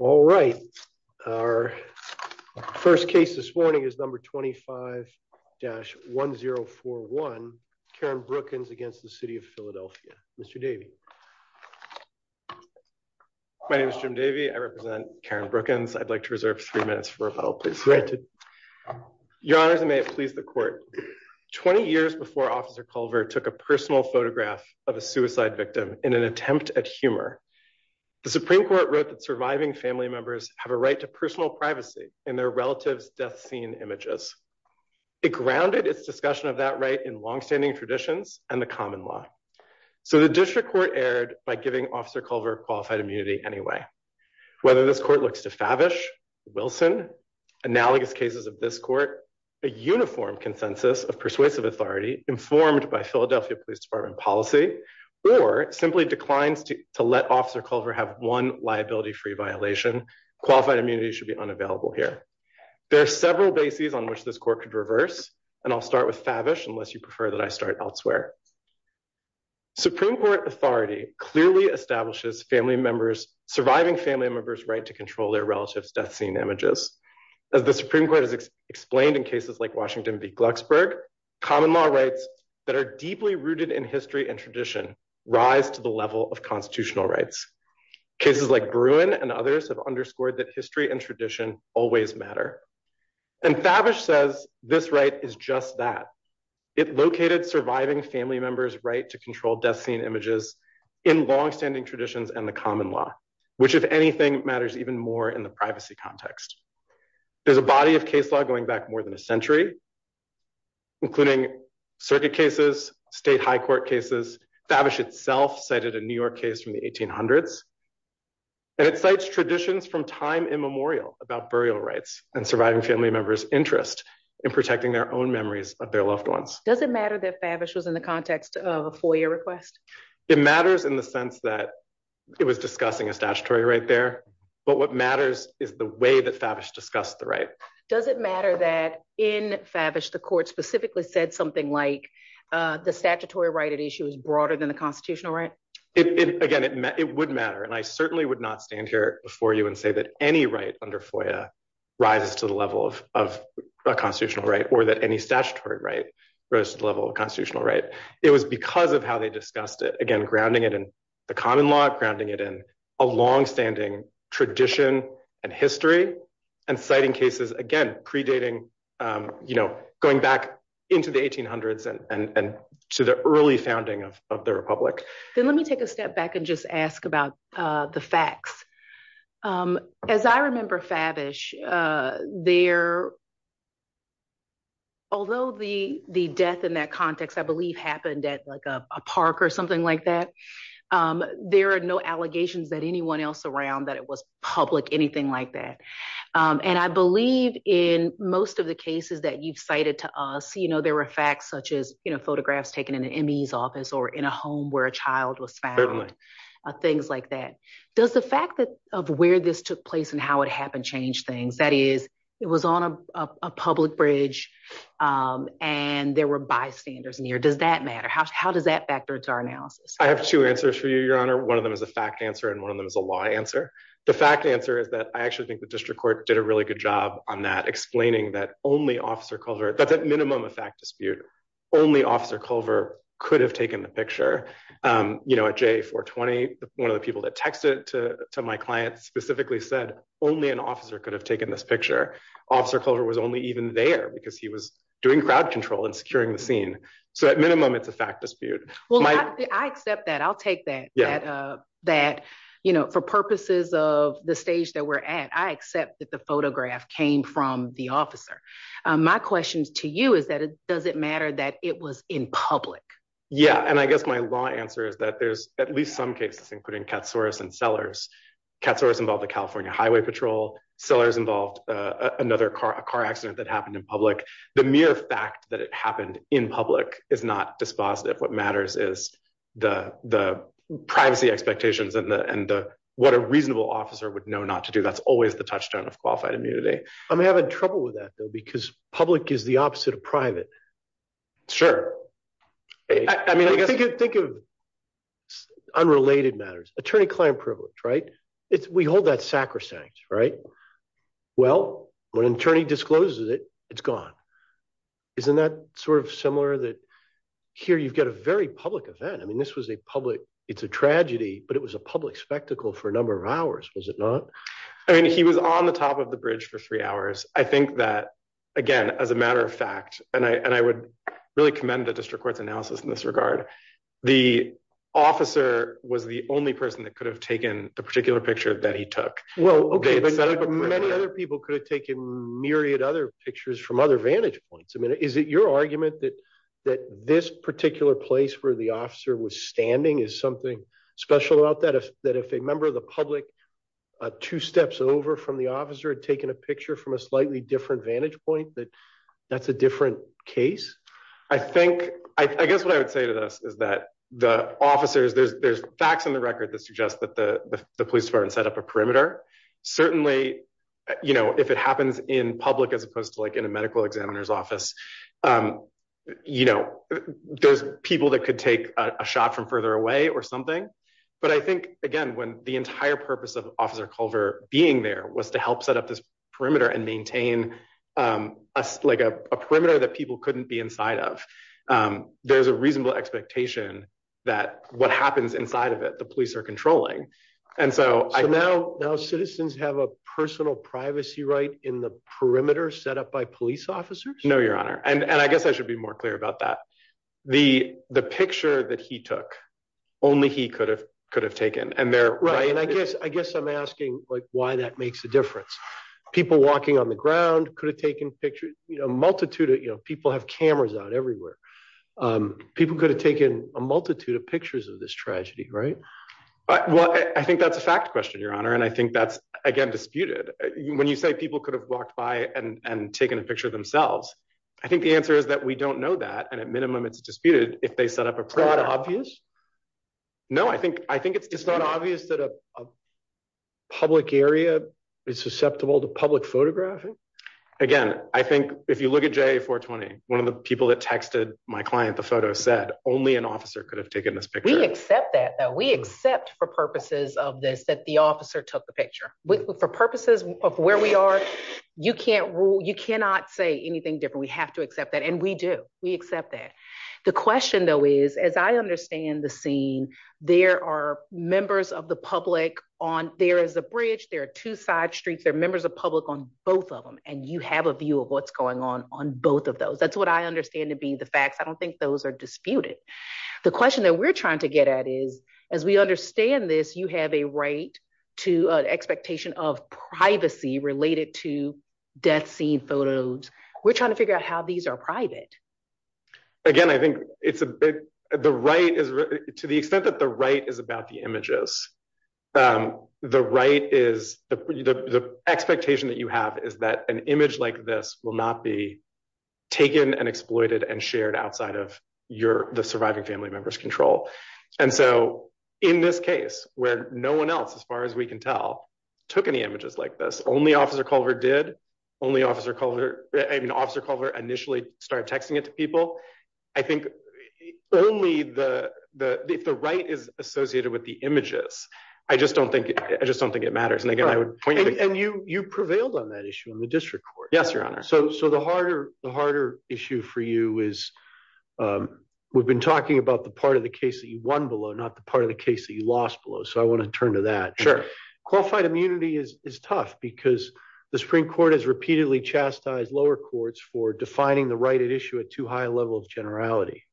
All right. Our first case this morning is number 25-1041, Karen Brookins against the City of Philadelphia. Mr. Davey. My name is Jim Davey. I represent Karen Brookins. I'd like to reserve three minutes for a follow-up, please. Granted. Your Honor, may it please the court. 20 years before Officer Culver took a personal photograph of a suicide victim in an attempt at humor, the Supreme Court wrote that surviving family members have a right to personal privacy in their relatives' death scene images. It grounded its discussion of that right in longstanding traditions and the common law. So the district court erred by giving Officer Culver qualified immunity anyway. Whether this court looks to Favish, Wilson, analogous cases of this court, a uniform consensus of persuasive authority informed by Philadelphia Police Department policy, or simply declines to let Officer Culver have one liability-free violation, qualified immunity should be unavailable here. There are several bases on which this court could reverse, and I'll start with Favish unless you prefer that I start elsewhere. Supreme Court authority clearly establishes surviving family members' right to control their relatives' death scene images. As the Supreme Court has explained in cases like Washington v. Glucksberg, common law rights that are deeply rooted in history and tradition rise to the level of constitutional rights. Cases like Bruin and others have underscored that history and tradition always matter. And Favish says this right is just that. It located surviving family members' right to control death scene images in longstanding traditions and the common law, which, if anything, matters even more in the privacy context. There's a body of case law going back more than a century, including circuit cases, state high court cases. Favish itself cited a New York case from the 1800s. And it cites traditions from time immemorial about burial rights and surviving family members' interest in protecting their own memories of their loved ones. Does it matter that Favish was in the context of a FOIA request? It matters in the sense that it was discussing a statutory right there. But what matters is the way that Favish discussed the right. Does it matter that in Favish the court specifically said something like the statutory right at issue is broader than the constitutional right? Again, it would matter. And I certainly would not stand here before you and say that any right under FOIA rises to the level of a constitutional right or that any statutory right rose to the level of constitutional right. It was because of how they discussed it, again, grounding it in the common law, grounding it in a longstanding tradition and history and citing cases, again, predating, you know, going back into the 1800s and to the early founding of the Republic. Then let me take a step back and just ask about the facts. As I remember Favish, although the death in that context I believe happened at like a park or something like that, there are no allegations that anyone else around that it was public, anything like that. And I believe in most of the cases that you've cited to us, you know, there were facts such as, you know, photographs taken in an ME's office or in a home where a child was found. Things like that. Does the fact of where this took place and how it happened change things? That is, it was on a public bridge and there were bystanders near. Does that matter? How does that factor into our analysis? I have two answers for you, Your Honor. One of them is a fact answer and one of them is a lie answer. The fact answer is that I actually think the district court did a really good job on that, explaining that only Officer Culver, that's at minimum a fact dispute, only Officer Culver could have taken the picture. You know, at J420, one of the people that texted to my client specifically said, only an officer could have taken this picture. Officer Culver was only even there because he was doing crowd control and securing the scene. So at minimum, it's a fact dispute. I accept that. I'll take that. That, you know, for purposes of the stage that we're at, I accept that the photograph came from the officer. My question to you is that, does it matter that it was in public? Yeah. And I guess my law answer is that there's at least some cases, including Katsouras and Sellers. Katsouras involved the California Highway Patrol. Sellers involved another car, a car accident that happened in public. The mere fact that it happened in public is not dispositive. What matters is the privacy expectations and what a reasonable officer would know not to do. That's always the touchstone of qualified immunity. I'm having trouble with that, though, because public is the opposite of private. I mean, I guess. Think of unrelated matters. Attorney-client privilege, right? We hold that sacrosanct, right? Well, when an attorney discloses it, it's gone. Isn't that sort of similar that here you've got a very public event? I mean, this was a public. It's a tragedy, but it was a public spectacle for a number of hours, was it not? I mean, he was on the top of the bridge for three hours. I think that, again, as a matter of fact, and I would really commend the district court's analysis in this regard. The officer was the only person that could have taken the particular picture that he took. Many other people could have taken myriad other pictures from other vantage points. I mean, is it your argument that this particular place where the officer was standing is something special about that? That if a member of the public two steps over from the officer had taken a picture from a slightly different vantage point, that that's a different case? I think I guess what I would say to this is that the officers there's there's facts in the record that suggest that the police department set up a perimeter. Certainly, you know, if it happens in public, as opposed to like in a medical examiner's office, you know, there's people that could take a shot from further away or something. But I think, again, when the entire purpose of Officer Culver being there was to help set up this perimeter and maintain us like a perimeter that people couldn't be inside of. There's a reasonable expectation that what happens inside of it, the police are controlling. And so I know now citizens have a personal privacy right in the perimeter set up by police officers. No, Your Honor. And I guess I should be more clear about that. The the picture that he took only he could have could have taken. And they're right. And I guess I guess I'm asking why that makes a difference. People walking on the ground could have taken pictures, you know, multitude of people have cameras out everywhere. People could have taken a multitude of pictures of this tragedy. Right. Well, I think that's a fact question, Your Honor. And I think that's, again, disputed. When you say people could have walked by and taken a picture of themselves, I think the answer is that we don't know that. And at minimum, it's disputed if they set up a plot. Obvious. No, I think I think it's just not obvious that a public area is susceptible to public photographing. Again, I think if you look at J420, one of the people that texted my client, the photo said only an officer could have taken this picture. We accept that that we accept for purposes of this, that the officer took the picture for purposes of where we are. You can't rule. You cannot say anything different. We have to accept that. And we do. We accept that. The question, though, is, as I understand the scene, there are members of the public on there is a bridge. There are two side streets. They're members of public on both of them. And you have a view of what's going on on both of those. That's what I understand to be the facts. I don't think those are disputed. The question that we're trying to get at is, as we understand this, you have a right to an expectation of privacy related to death scene photos. We're trying to figure out how these are private. Again, I think it's a big the right is to the extent that the right is about the images. The right is the expectation that you have is that an image like this will not be taken and exploited and shared outside of your the surviving family members control. And so in this case, where no one else, as far as we can tell, took any images like this, only Officer Culver did only Officer Culver and Officer Culver initially started texting it to people. I think only the the right is associated with the images. I just don't think I just don't think it matters. And again, I would point you and you you prevailed on that issue in the district court. Yes, Your Honor. So so the harder the harder issue for you is we've been talking about the part of the case that you won below, not the part of the case that you lost below. So I want to turn to that. Sure. Qualified immunity is tough because the Supreme Court has repeatedly chastised lower courts for defining the right at issue at too high a level of generality.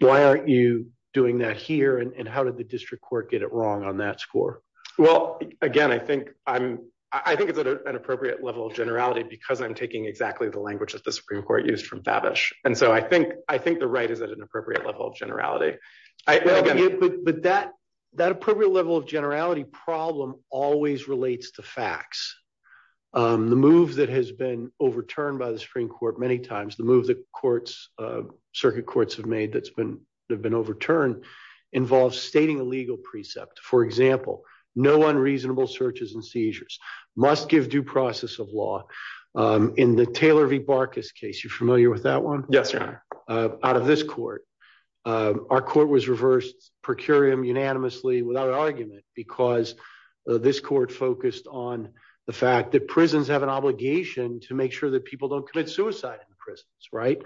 Why aren't you doing that here? And how did the district court get it wrong on that score? Well, again, I think I'm I think it's an appropriate level of generality because I'm taking exactly the language that the Supreme Court used from Babish. And so I think I think the right is at an appropriate level of generality. But that that appropriate level of generality problem always relates to facts. The move that has been overturned by the Supreme Court many times, the move that courts, circuit courts have made that's been have been overturned involves stating a legal precept. For example, no unreasonable searches and seizures must give due process of law. In the Taylor v. Barkis case, you familiar with that one? Yes, sir. Out of this court, our court was reversed per curiam unanimously without argument because this court focused on the fact that prisons have an obligation to make sure that people don't commit suicide in prisons. Right.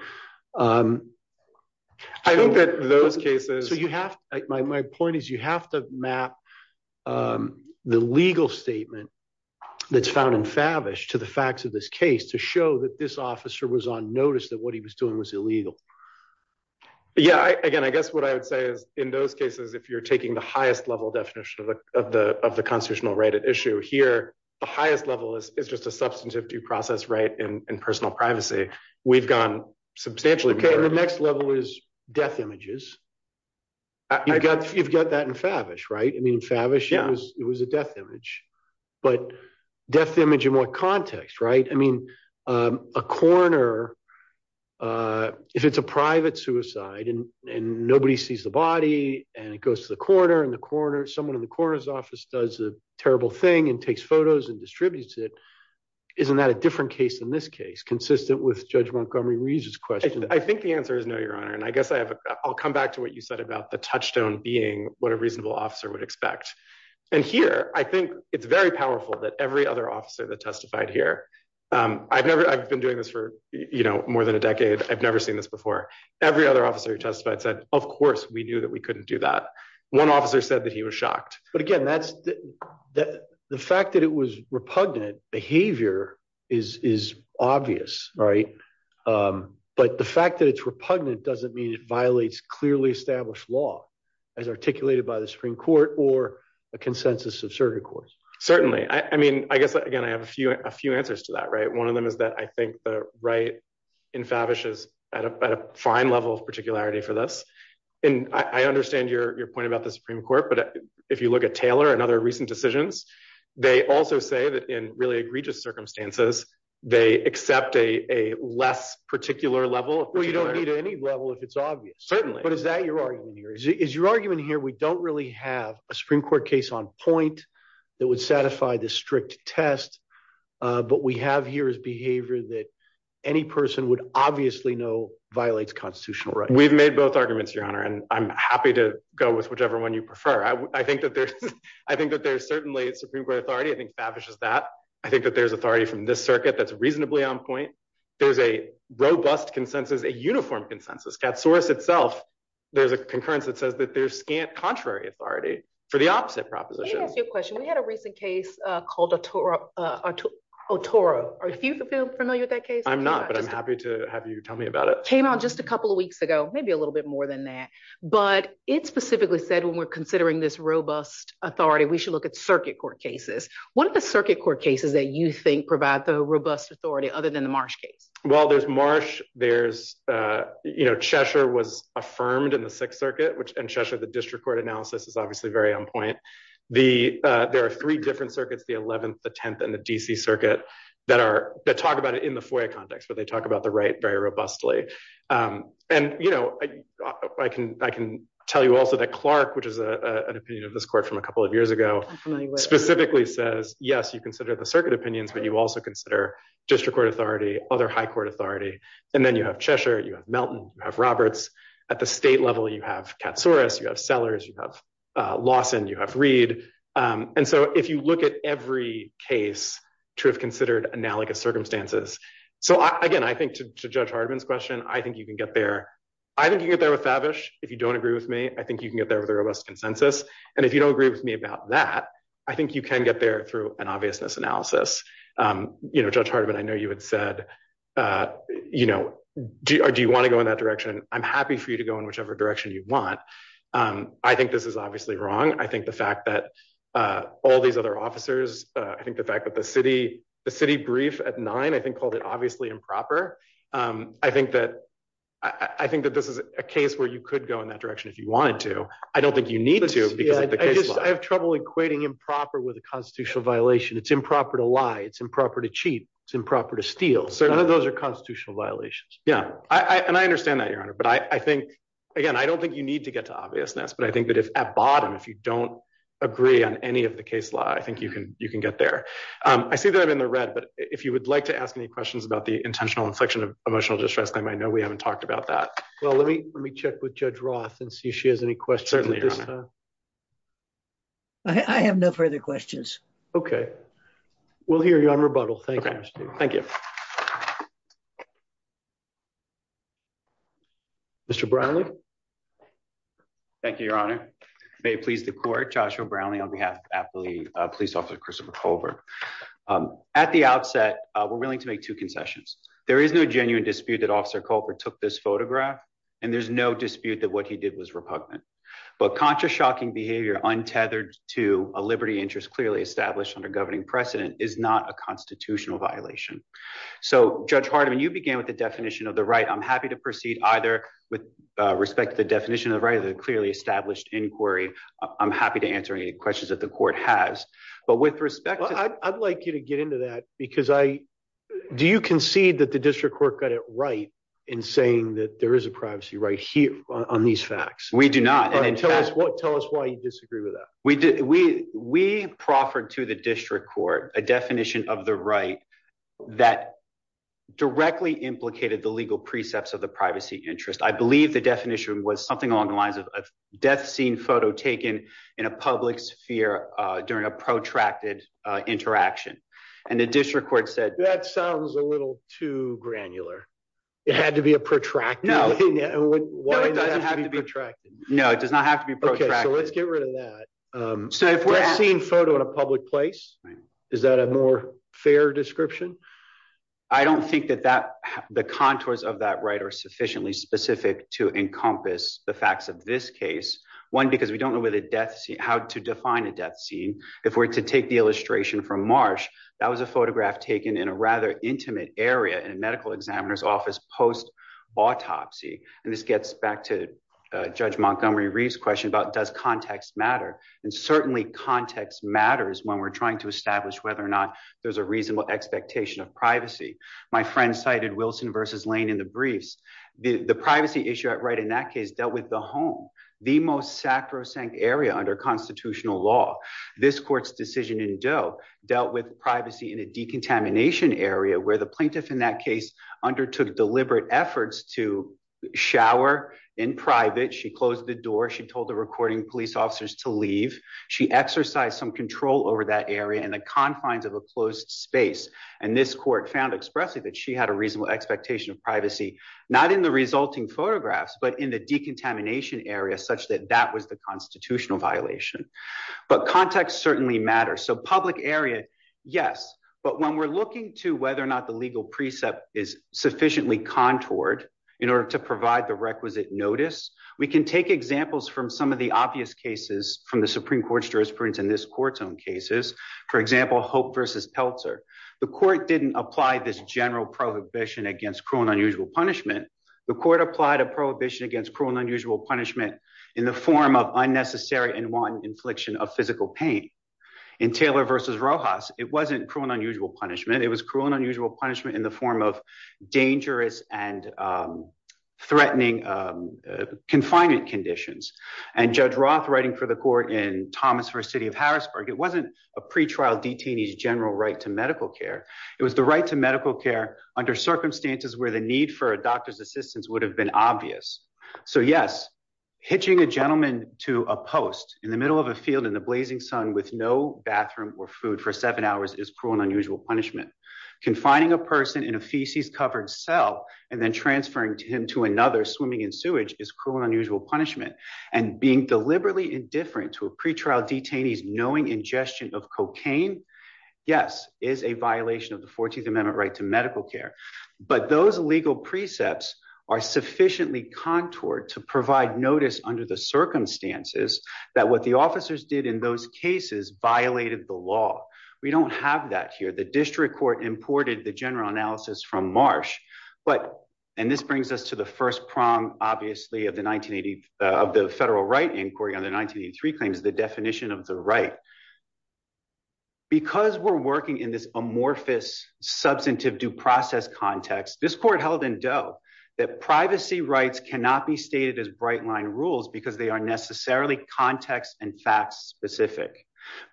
I think that those cases you have my point is you have to map the legal statement that's found in Babish to the facts of this case to show that this officer was on notice that what he was doing was illegal. Yeah. Again, I guess what I would say is in those cases, if you're taking the highest level definition of the of the constitutional right at issue here, the highest level is just a substantive due process. Right. In personal privacy, we've gone substantially. The next level is death images. You've got you've got that in Favish, right? I mean, Favish, it was it was a death image, but death image in what context? Right. I mean, a coroner, if it's a private suicide and nobody sees the body and it goes to the coroner and the coroner, someone in the coroner's office does a terrible thing and takes photos and distributes it. Isn't that a different case in this case consistent with Judge Montgomery Reed's question? I think the answer is no, your honor. And I guess I have I'll come back to what you said about the touchstone being what a reasonable officer would expect. And here, I think it's very powerful that every other officer that testified here. I've never I've been doing this for more than a decade. I've never seen this before. Every other officer who testified said, of course, we knew that we couldn't do that. One officer said that he was shocked. But again, that's the fact that it was repugnant behavior is is obvious. Right. But the fact that it's repugnant doesn't mean it violates clearly established law as articulated by the Supreme Court or a consensus of certain courts. Certainly. I mean, I guess, again, I have a few a few answers to that. Right. One of them is that I think the right in Favish is at a fine level of particularity for this. And I understand your point about the Supreme Court. But if you look at Taylor and other recent decisions, they also say that in really egregious circumstances, they accept a less particular level. Well, you don't need any level if it's obvious. Certainly. But is that your argument here is your argument here? We don't really have a Supreme Court case on point that would satisfy the strict test. But we have here is behavior that any person would obviously know violates constitutional right. We've made both arguments, Your Honor, and I'm happy to go with whichever one you prefer. I think that there's I think that there's certainly a Supreme Court authority. I think Favish is that I think that there's authority from this circuit that's reasonably on point. There's a robust consensus, a uniform consensus that source itself. There's a concurrence that says that there's scant contrary authority for the opposite proposition. Let me ask you a question. We had a recent case called a tour or a tour. Are you familiar with that case? I'm not, but I'm happy to have you tell me about it. Came out just a couple of weeks ago, maybe a little bit more than that. But it specifically said when we're considering this robust authority, we should look at circuit court cases. One of the circuit court cases that you think provide the robust authority other than the Marsh case? Well, there's Marsh. There's you know, Cheshire was affirmed in the Sixth Circuit, which in Cheshire, the district court analysis is obviously very on point. The there are three different circuits, the 11th, the 10th and the DC circuit that are that talk about it in the FOIA context where they talk about the right very robustly. And, you know, I can I can tell you also that Clark, which is an opinion of this court from a couple of years ago, specifically says, yes, you consider the circuit opinions, but you also consider district court authority, other high court authority. And then you have Cheshire, you have Melton, you have Roberts at the state level. You have Katsouris, you have Sellers, you have Lawson, you have Reed. And so if you look at every case to have considered analogous circumstances. So, again, I think to Judge Hardiman's question, I think you can get there. I think you get there with Favish. If you don't agree with me, I think you can get there with a robust consensus. And if you don't agree with me about that, I think you can get there through an obviousness analysis. You know, Judge Hardiman, I know you had said, you know, do you want to go in that direction? I'm happy for you to go in whichever direction you want. I think this is obviously wrong. I think the fact that all these other officers, I think the fact that the city, the city brief at nine, I think called it obviously improper. I think that I think that this is a case where you could go in that direction if you wanted to. I don't think you need to. I have trouble equating improper with a constitutional violation. It's improper to lie. It's improper to cheat. It's improper to steal. So none of those are constitutional violations. Yeah. And I understand that, Your Honor. But I think, again, I don't think you need to get to obviousness. But I think that if at bottom, if you don't agree on any of the case law, I think you can you can get there. I see that I'm in the red. But if you would like to ask any questions about the intentional infliction of emotional distress, I know we haven't talked about that. Well, let me let me check with Judge Roth and see if she has any questions. I have no further questions. OK, we'll hear you on rebuttal. Thank you. Thank you. Mr. Brownlee. Thank you, Your Honor. May it please the court. Joshua Brownlee on behalf of the police officer, Christopher Colbert. At the outset, we're willing to make two concessions. There is no genuine dispute that Officer Colbert took this photograph and there's no dispute that what he did was repugnant. But conscious, shocking behavior untethered to a liberty interest clearly established under governing precedent is not a constitutional violation. So, Judge Hardiman, you began with the definition of the right. I'm happy to proceed either with respect to the definition of the right of the clearly established inquiry. I'm happy to answer any questions that the court has. But with respect, I'd like you to get into that because I do. You concede that the district court got it right in saying that there is a privacy right here on these facts. We do not. And tell us what tell us why you disagree with that. We did we we proffered to the district court a definition of the right that directly implicated the legal precepts of the privacy interest. I believe the definition was something along the lines of death scene photo taken in a public sphere during a protracted interaction. And the district court said that sounds a little too granular. It had to be a protracted. No, no, it doesn't have to be protracted. No, it does not have to be. OK, so let's get rid of that. So if we're seeing photo in a public place, is that a more fair description? I don't think that that the contours of that right are sufficiently specific to encompass the facts of this case. One, because we don't know where the death, how to define a death scene. If we're to take the illustration from Marsh, that was a photograph taken in a rather intimate area in a medical examiner's office post autopsy. And this gets back to Judge Montgomery Reeves question about does context matter? And certainly context matters when we're trying to establish whether or not there's a reasonable expectation of privacy. My friend cited Wilson versus Lane in the briefs. The privacy issue at right in that case dealt with the home, the most sacrosanct area under constitutional law. This court's decision in Doe dealt with privacy in a decontamination area where the plaintiff in that case undertook deliberate efforts to shower in private. She closed the door. She told the recording police officers to leave. She exercised some control over that area in the confines of a closed space. And this court found expressly that she had a reasonable expectation of privacy, not in the resulting photographs, but in the decontamination area such that that was the constitutional violation. But context certainly matters. So public area. Yes. But when we're looking to whether or not the legal precept is sufficiently contoured in order to provide the requisite notice, we can take examples from some of the obvious cases from the Supreme Court's jurisprudence in this court's own cases. For example, hope versus Peltzer. The court didn't apply this general prohibition against cruel and unusual punishment. The court applied a prohibition against cruel and unusual punishment in the form of unnecessary in one infliction of physical pain in Taylor versus Rojas. It wasn't cruel and unusual punishment. It was cruel and unusual punishment in the form of dangerous and threatening confinement conditions. And Judge Roth writing for the court in Thomas versus city of Harrisburg. It wasn't a pretrial detainees general right to medical care. It was the right to medical care under circumstances where the need for a doctor's assistance would have been obvious. So yes, hitching a gentleman to a post in the middle of a field in the blazing sun with no bathroom or food for seven hours is cruel and unusual punishment confining a person in a feces covered cell, and then transferring him to another swimming in sewage is cruel and unusual punishment and being deliberately indifferent to a pretrial detainees knowing ingestion of cocaine. Yes, is a violation of the 14th amendment right to medical care, but those legal precepts are sufficiently contoured to provide notice under the circumstances that what the officers did in those cases violated the law. We don't have that here the district court imported the general analysis from Marsh, but, and this brings us to the first prom, obviously of the 1980 of the federal right inquiry on the 1983 claims the definition of the right, because we're working in this amorphous substantive context, this court held in doubt that privacy rights cannot be stated as bright line rules because they are necessarily context and facts specific,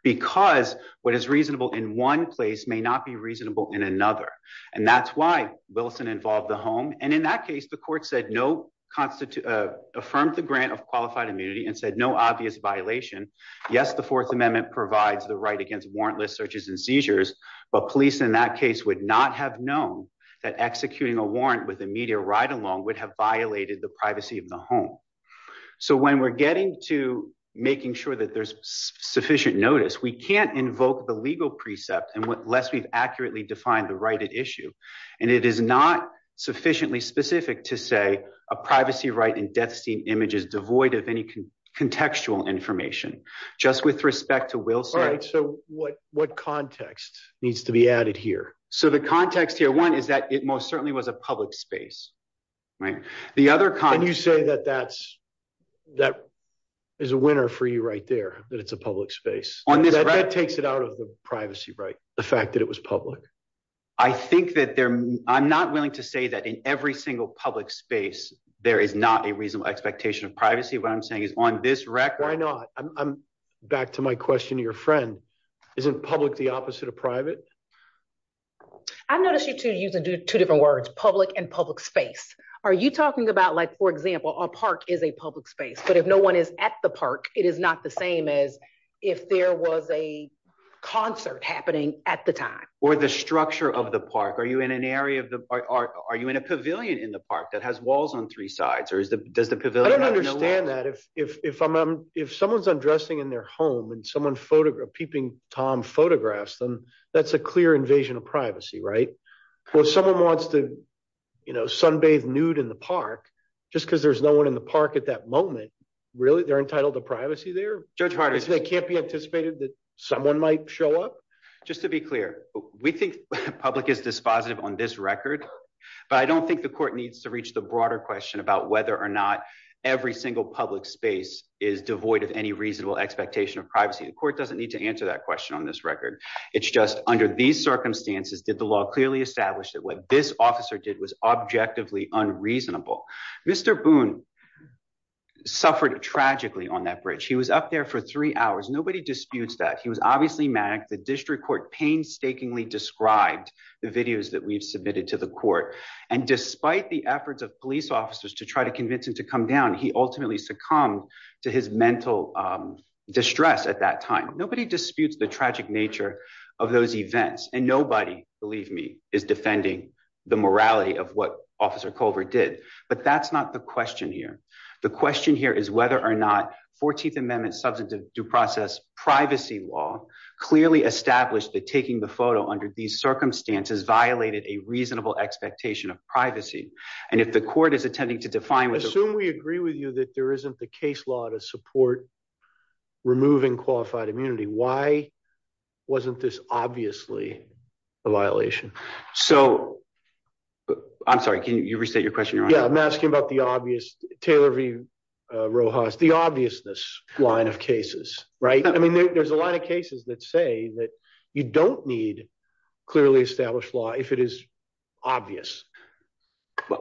because what is reasonable in one place may not be reasonable in another. And that's why Wilson involved the home and in that case the court said no constitute affirmed the grant of qualified immunity and said no obvious violation. Yes, the Fourth Amendment provides the right against warrantless searches and seizures, but police in that case would not have known that executing a warrant with a media ride along would have violated the privacy of the home. So when we're getting to making sure that there's sufficient notice we can't invoke the legal precept and what less we've accurately defined the right at issue. And it is not sufficiently specific to say a privacy right and death scene images devoid of any contextual information, just with respect to Wilson, so what what context needs to be added here. So the context here one is that it most certainly was a public space. Right. The other can you say that that's that is a winner for you right there, that it's a public space on this right takes it out of the privacy right, the fact that it was public. I think that there. I'm not willing to say that in every single public space, there is not a reasonable expectation of privacy what I'm saying is on this record I know I'm back to my question to your friend isn't public the opposite of private. I noticed you to use two different words public and public space. Are you talking about like for example a park is a public space but if no one is at the park, it is not the same as if there was a concert happening at the time, or the structure of the park is the same and someone photograph peeping Tom photographs them. That's a clear invasion of privacy right. Well, someone wants to, you know, sunbathe nude in the park, just because there's no one in the park at that moment. Really, they're entitled to privacy their judge parties they can't be anticipated that someone might show up. Just to be clear, we think public is dispositive on this record. But I don't think the court needs to reach the broader question about whether or not every single public space is devoid of any reasonable expectation of privacy and court doesn't need to answer that question on this record. It's just under these circumstances did the law clearly established that what this officer did was objectively unreasonable. Mr Boone suffered tragically on that bridge he was up there for three hours nobody disputes that he was obviously mad at the district court painstakingly described the videos that we've submitted to the court. And despite the efforts of police officers to try to convince him to come down he ultimately succumb to his mental distress at that time, nobody disputes the tragic nature of those events, and nobody, believe me, is defending the morality of what officer Culver did, but that's not the question here. The question here is whether or not 14th Amendment substantive due process privacy law clearly established that taking the photo under these circumstances would be a violation. So, I'm sorry, can you restate your question. Yeah, I'm asking about the obvious Taylor V Rojas the obvious this line of cases, right, I mean there's a lot of cases that say that you don't need clearly established law if it is obvious.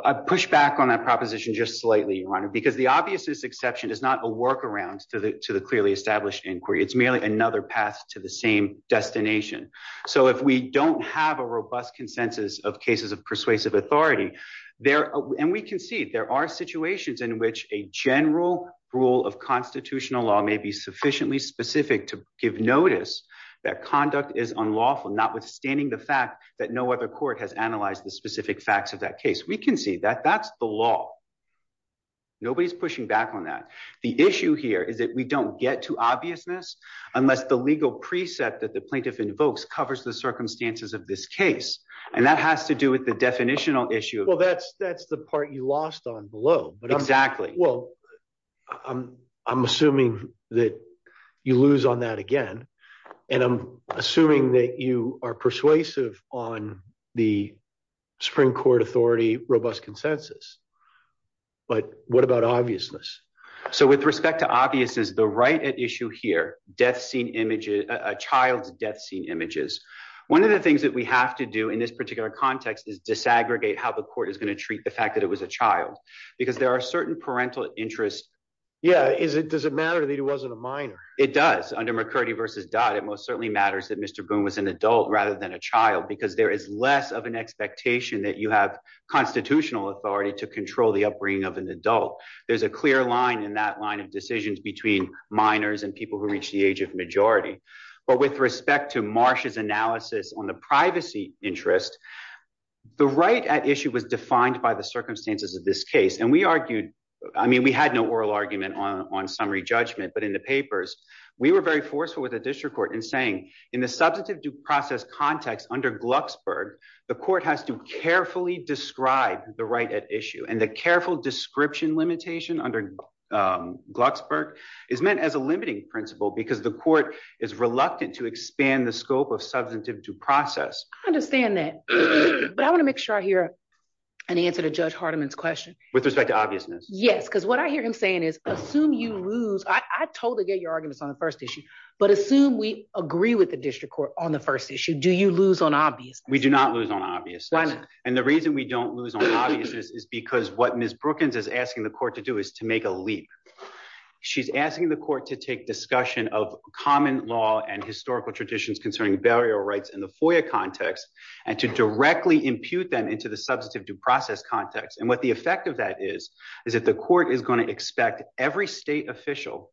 I push back on that proposition just slightly run because the obvious this exception is not a workaround to the to the clearly established inquiry it's merely another path to the same destination. So if we don't have a robust consensus of cases of persuasive authority there, and we can see there are situations in which a general rule of constitutional law may be sufficiently specific to give notice that conduct is unlawful notwithstanding the fact that no other court has analyzed the specific facts of that case we can see that that's the law. Nobody's pushing back on that. The issue here is that we don't get to obviousness, unless the legal precept that the plaintiff invokes covers the circumstances of this case, and that has to do with the definitional issue. Well, that's that's the part you lost on below, but exactly. Well, I'm, I'm assuming that you lose on that again. And I'm assuming that you are persuasive on the Supreme Court authority robust consensus. But what about obviousness. So with respect to obvious is the right at issue here, death scene images, a child's death scene images. One of the things that we have to do in this particular context is disaggregate how the court is going to treat the fact that it was a child, because there are certain parental interest. Yeah, is it does it matter that it wasn't a minor, it does under McCurdy versus dot it most certainly matters that Mr. Boone was an adult rather than a child because there is less of an expectation that you have constitutional authority to control the upbringing of an adult. There's a clear line in that line of decisions between minors and people who reach the age of majority, but with respect to marshes analysis on the privacy interest. The right at issue was defined by the circumstances of this case and we argued, I mean we had no oral argument on summary judgment but in the papers. We were very forceful with a district court and saying in the substantive due process context under Glucksburg, the court has to carefully describe the right at issue and the careful description limitation under Glucksburg is meant as a limiting principle because the court is reluctant to expand the scope of substantive due process. I understand that. But I want to make sure I hear an answer to judge Hardiman's question, with respect to obviousness, yes because what I hear him saying is, assume you lose I totally get your arguments on the first issue, but assume we agree with the district court on the first issue do you lose on obvious We do not lose on obvious and the reason we don't lose on obvious is because what Miss Brookings is asking the court to do is to make a leap. She's asking the court to take discussion of common law and historical traditions concerning burial rights in the FOIA context, and to directly impute them into the substantive due process context and what the effect of that is, is that the court is going to expect every state official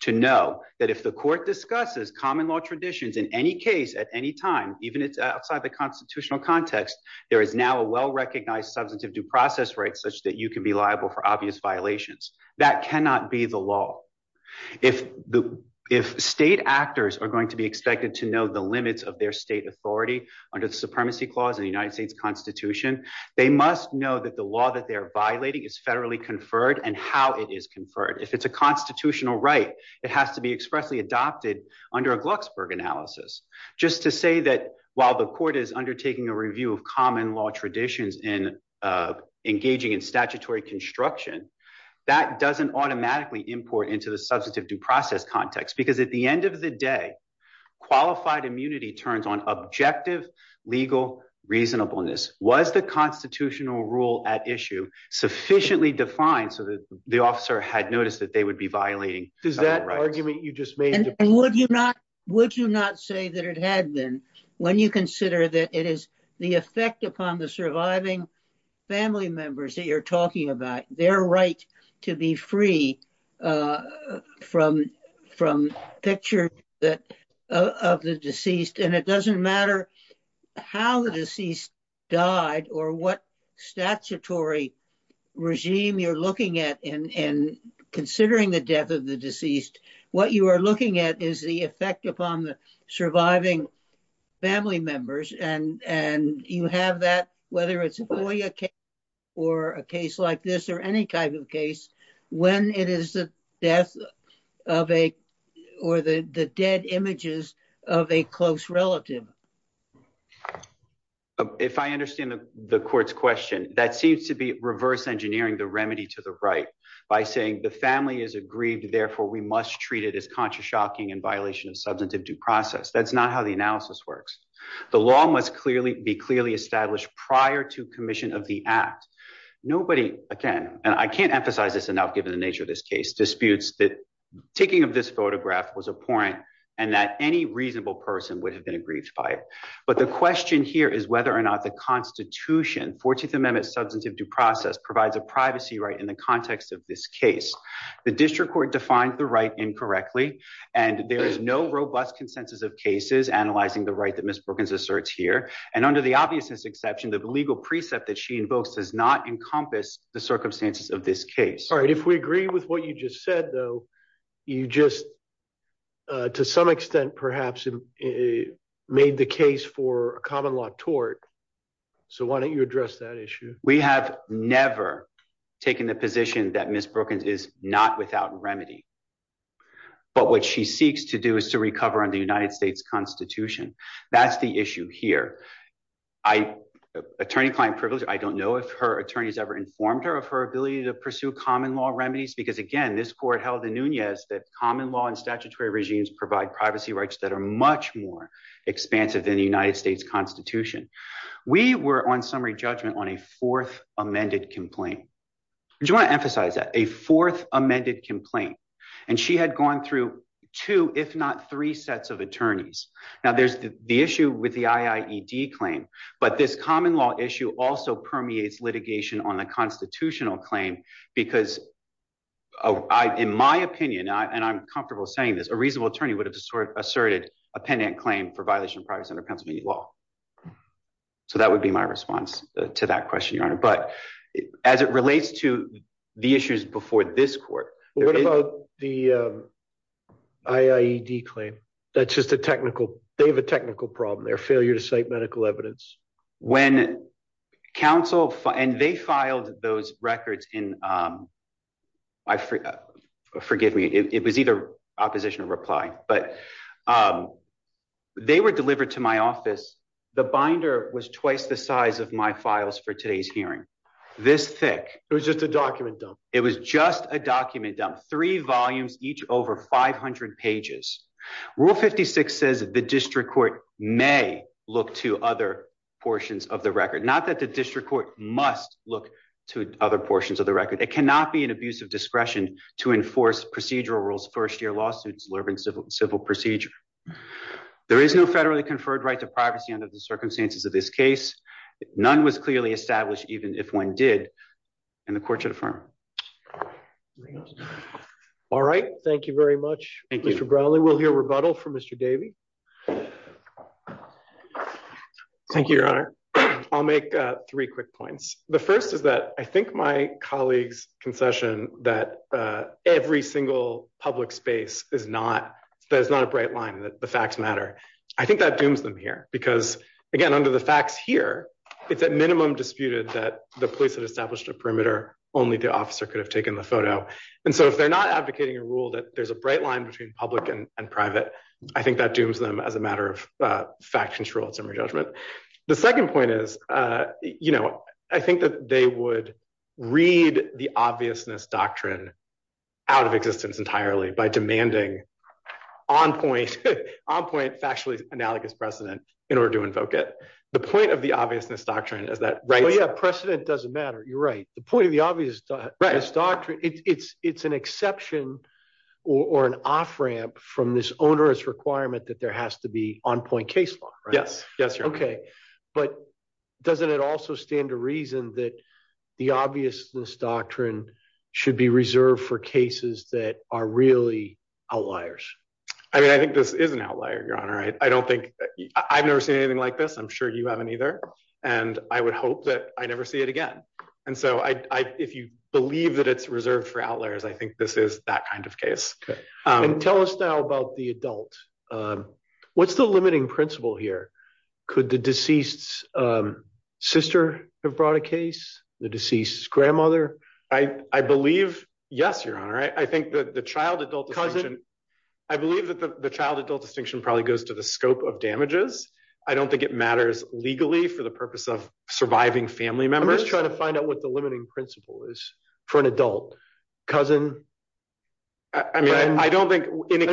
to know that if the court discusses common law traditions in any case at any time, even if it's outside the constitutional context, there is now a well recognized substantive due process right such that you can be liable for obvious violations that cannot be the law. If the, if state actors are going to be expected to know the limits of their state authority under the supremacy clause in the United States Constitution, they must know that the law that they're violating is federally conferred and how it is conferred if it's a constitutional constitutional right, it has to be expressly adopted under a Glucksberg analysis, just to say that, while the court is undertaking a review of common law traditions in engaging in statutory construction that doesn't automatically import into the substantive due process context because at the end of the day, qualified immunity turns on objective legal reasonableness was the constitutional rule at issue sufficiently defined so that the officer had noticed that they would be violating. Does that argument you just made. Would you not, would you not say that it had been when you consider that it is the effect upon the surviving family members that you're talking about their right to be free from from picture that of the deceased and it doesn't matter how the deceased died or what statutory regime you're looking at and considering the death of the deceased. What you are looking at is the effect upon the surviving family members and and you have that, whether it's a boy or a case like this or any type of case, when it is the death of a, or the dead images of a close relative. If I understand the court's question that seems to be reverse engineering the remedy to the right by saying the family is aggrieved therefore we must treat it as conscious shocking and violation of substantive due process that's not how the analysis works. The law must clearly be clearly established prior to commission of the act. Nobody. Again, and I can't emphasize this enough given the nature of this case disputes that taking of this photograph was a point, and that any reasonable person would have been aggrieved by it. But the question here is whether or not the Constitution 14th Amendment substantive due process provides a privacy right in the context of this case, the district court defined the right incorrectly. And there is no robust consensus of cases analyzing the right that Miss Perkins asserts here, and under the obvious exception that the legal precept that she invokes does not encompass the circumstances of this case. All right, if we agree with what you just said, though, you just, to some extent, perhaps it made the case for a common law tort. So why don't you address that issue, we have never taken the position that Miss Perkins is not without remedy. But what she seeks to do is to recover on the United States Constitution. That's the issue here. I attorney client privilege I don't know if her attorneys ever informed her of her ability to pursue common law remedies because again this court held the Nunez that common law and statutory regimes provide privacy rights that are much more expansive than the United States Constitution. We were on summary judgment on a fourth amended complaint. Do you want to emphasize that a fourth amended complaint, and she had gone through to if not three sets of attorneys. Now there's the issue with the IED claim, but this common law issue also permeates litigation on the constitutional claim, because I in my opinion and I'm comfortable saying this a reasonable attorney would have asserted a pendant claim for violation of privacy under Pennsylvania law. So that would be my response to that question your honor but as it relates to the issues before this court, the IED claim. That's just a technical, they have a technical problem their failure to cite medical evidence. When counsel, and they filed those records in. I forget, forgive me, it was either opposition reply, but they were delivered to my office. The binder was twice the size of my files for today's hearing this thick, it was just a document dump. It was just a document dump three volumes, each over 500 pages rule 56 says the district court may look to other portions of the record not that the district court must look to other portions of the record, it cannot be an abuse of discretion to enforce procedural rules first year lawsuits and the court should affirm. There is no federally conferred right to privacy under the circumstances of this case. None was clearly established even if one did. And the court should affirm. All right, thank you very much, Mr Bradley will hear rebuttal from Mr Davey. Thank you, Your Honor. I'll make three quick points. The first is that I think my colleagues concession that every single public space is not. There's not a bright line that the facts matter. I think that dooms them here, because, again, under the facts here. It's at minimum disputed that the police that established a perimeter, only the officer could have taken the photo. And so if they're not advocating a rule that there's a bright line between public and private. I think that dooms them as a matter of fact control summary judgment. The second point is, you know, I think that they would read the obviousness doctrine out of existence entirely by demanding on point on point factually analogous precedent in order to invoke it. The point of the obviousness doctrine is that precedent doesn't matter. You're right. The point of the obvious doctrine, it's, it's an exception, or an off ramp from this onerous requirement that there has to be on point case law. Yes, yes. Okay. But doesn't it also stand to reason that the obviousness doctrine should be reserved for cases that are really outliers. I mean I think this is an outlier your honor I don't think I've never seen anything like this I'm sure you haven't either. And I would hope that I never see it again. And so I if you believe that it's reserved for outliers I think this is that kind of case. And tell us now about the adult. What's the limiting principle here. Could the deceased's sister have brought a case, the deceased's grandmother. I believe, yes, your honor I think that the child adult cousin. I believe that the child adult distinction probably goes to the scope of damages. I don't think it matters legally for the purpose of surviving family members trying to find out what the limiting principle is for an adult cousin. I mean, I don't think any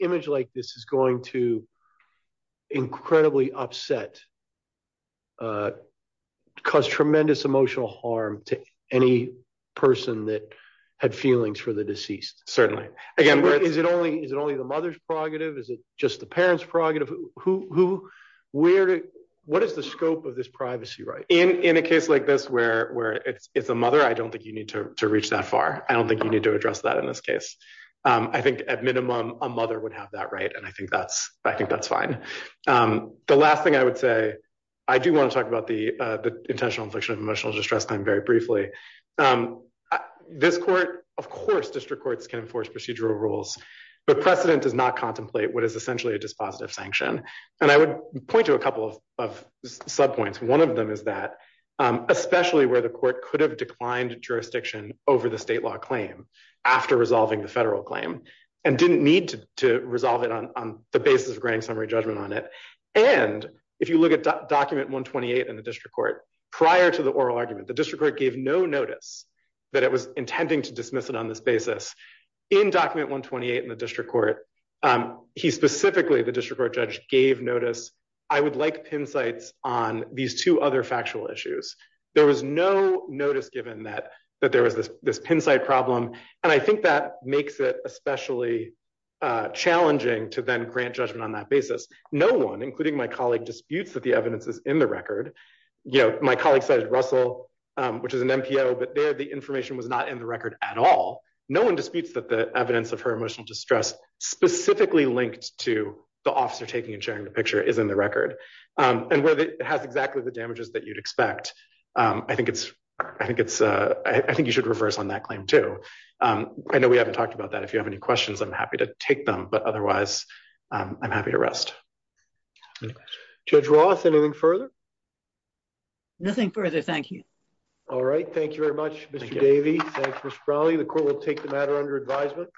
image like this is going to incredibly upset cause tremendous emotional harm to any person that had feelings for the deceased, certainly, again, where is it only is it only the mother's prerogative is it just the parents prerogative, who, where, what is the scope of this privacy right in in a case like this where where it's a mother I don't think you need to reach that far. I don't think you need to address that in this case. I think at minimum, a mother would have that right and I think that's, I think that's fine. The last thing I would say, I do want to talk about the intentional infliction of emotional distress time very briefly. This court, of course district courts can enforce procedural rules, but precedent does not contemplate what is essentially a dispositive sanction, and I would point to a couple of sub points one of them is that, especially where the court could have declined jurisdiction over the state law claim. After resolving the federal claim, and didn't need to resolve it on the basis of grand summary judgment on it. And if you look at document 128 and the district court prior to the oral argument the district court gave no notice that it was intending to dismiss it on this basis in document 128 in the district court. He specifically the district court judge gave notice. I would like pin sites on these two other factual issues. There was no notice given that that there was this this pin site problem. And I think that makes it especially challenging to then grant judgment on that basis, no one including my colleague disputes that the evidence is in the record. You know, my colleague said Russell, which is an NPO but there the information was not in the record at all. No one disputes that the evidence of her emotional distress, specifically linked to the officer taking and sharing the picture is in the record, and whether it has exactly the damages that you'd expect. I think it's, I think it's, I think you should reverse on that claim to. I know we haven't talked about that if you have any questions I'm happy to take them but otherwise, I'm happy to rest. Judge Ross anything further. Nothing further. Thank you. All right, thank you very much. The court will take the matter under advisement.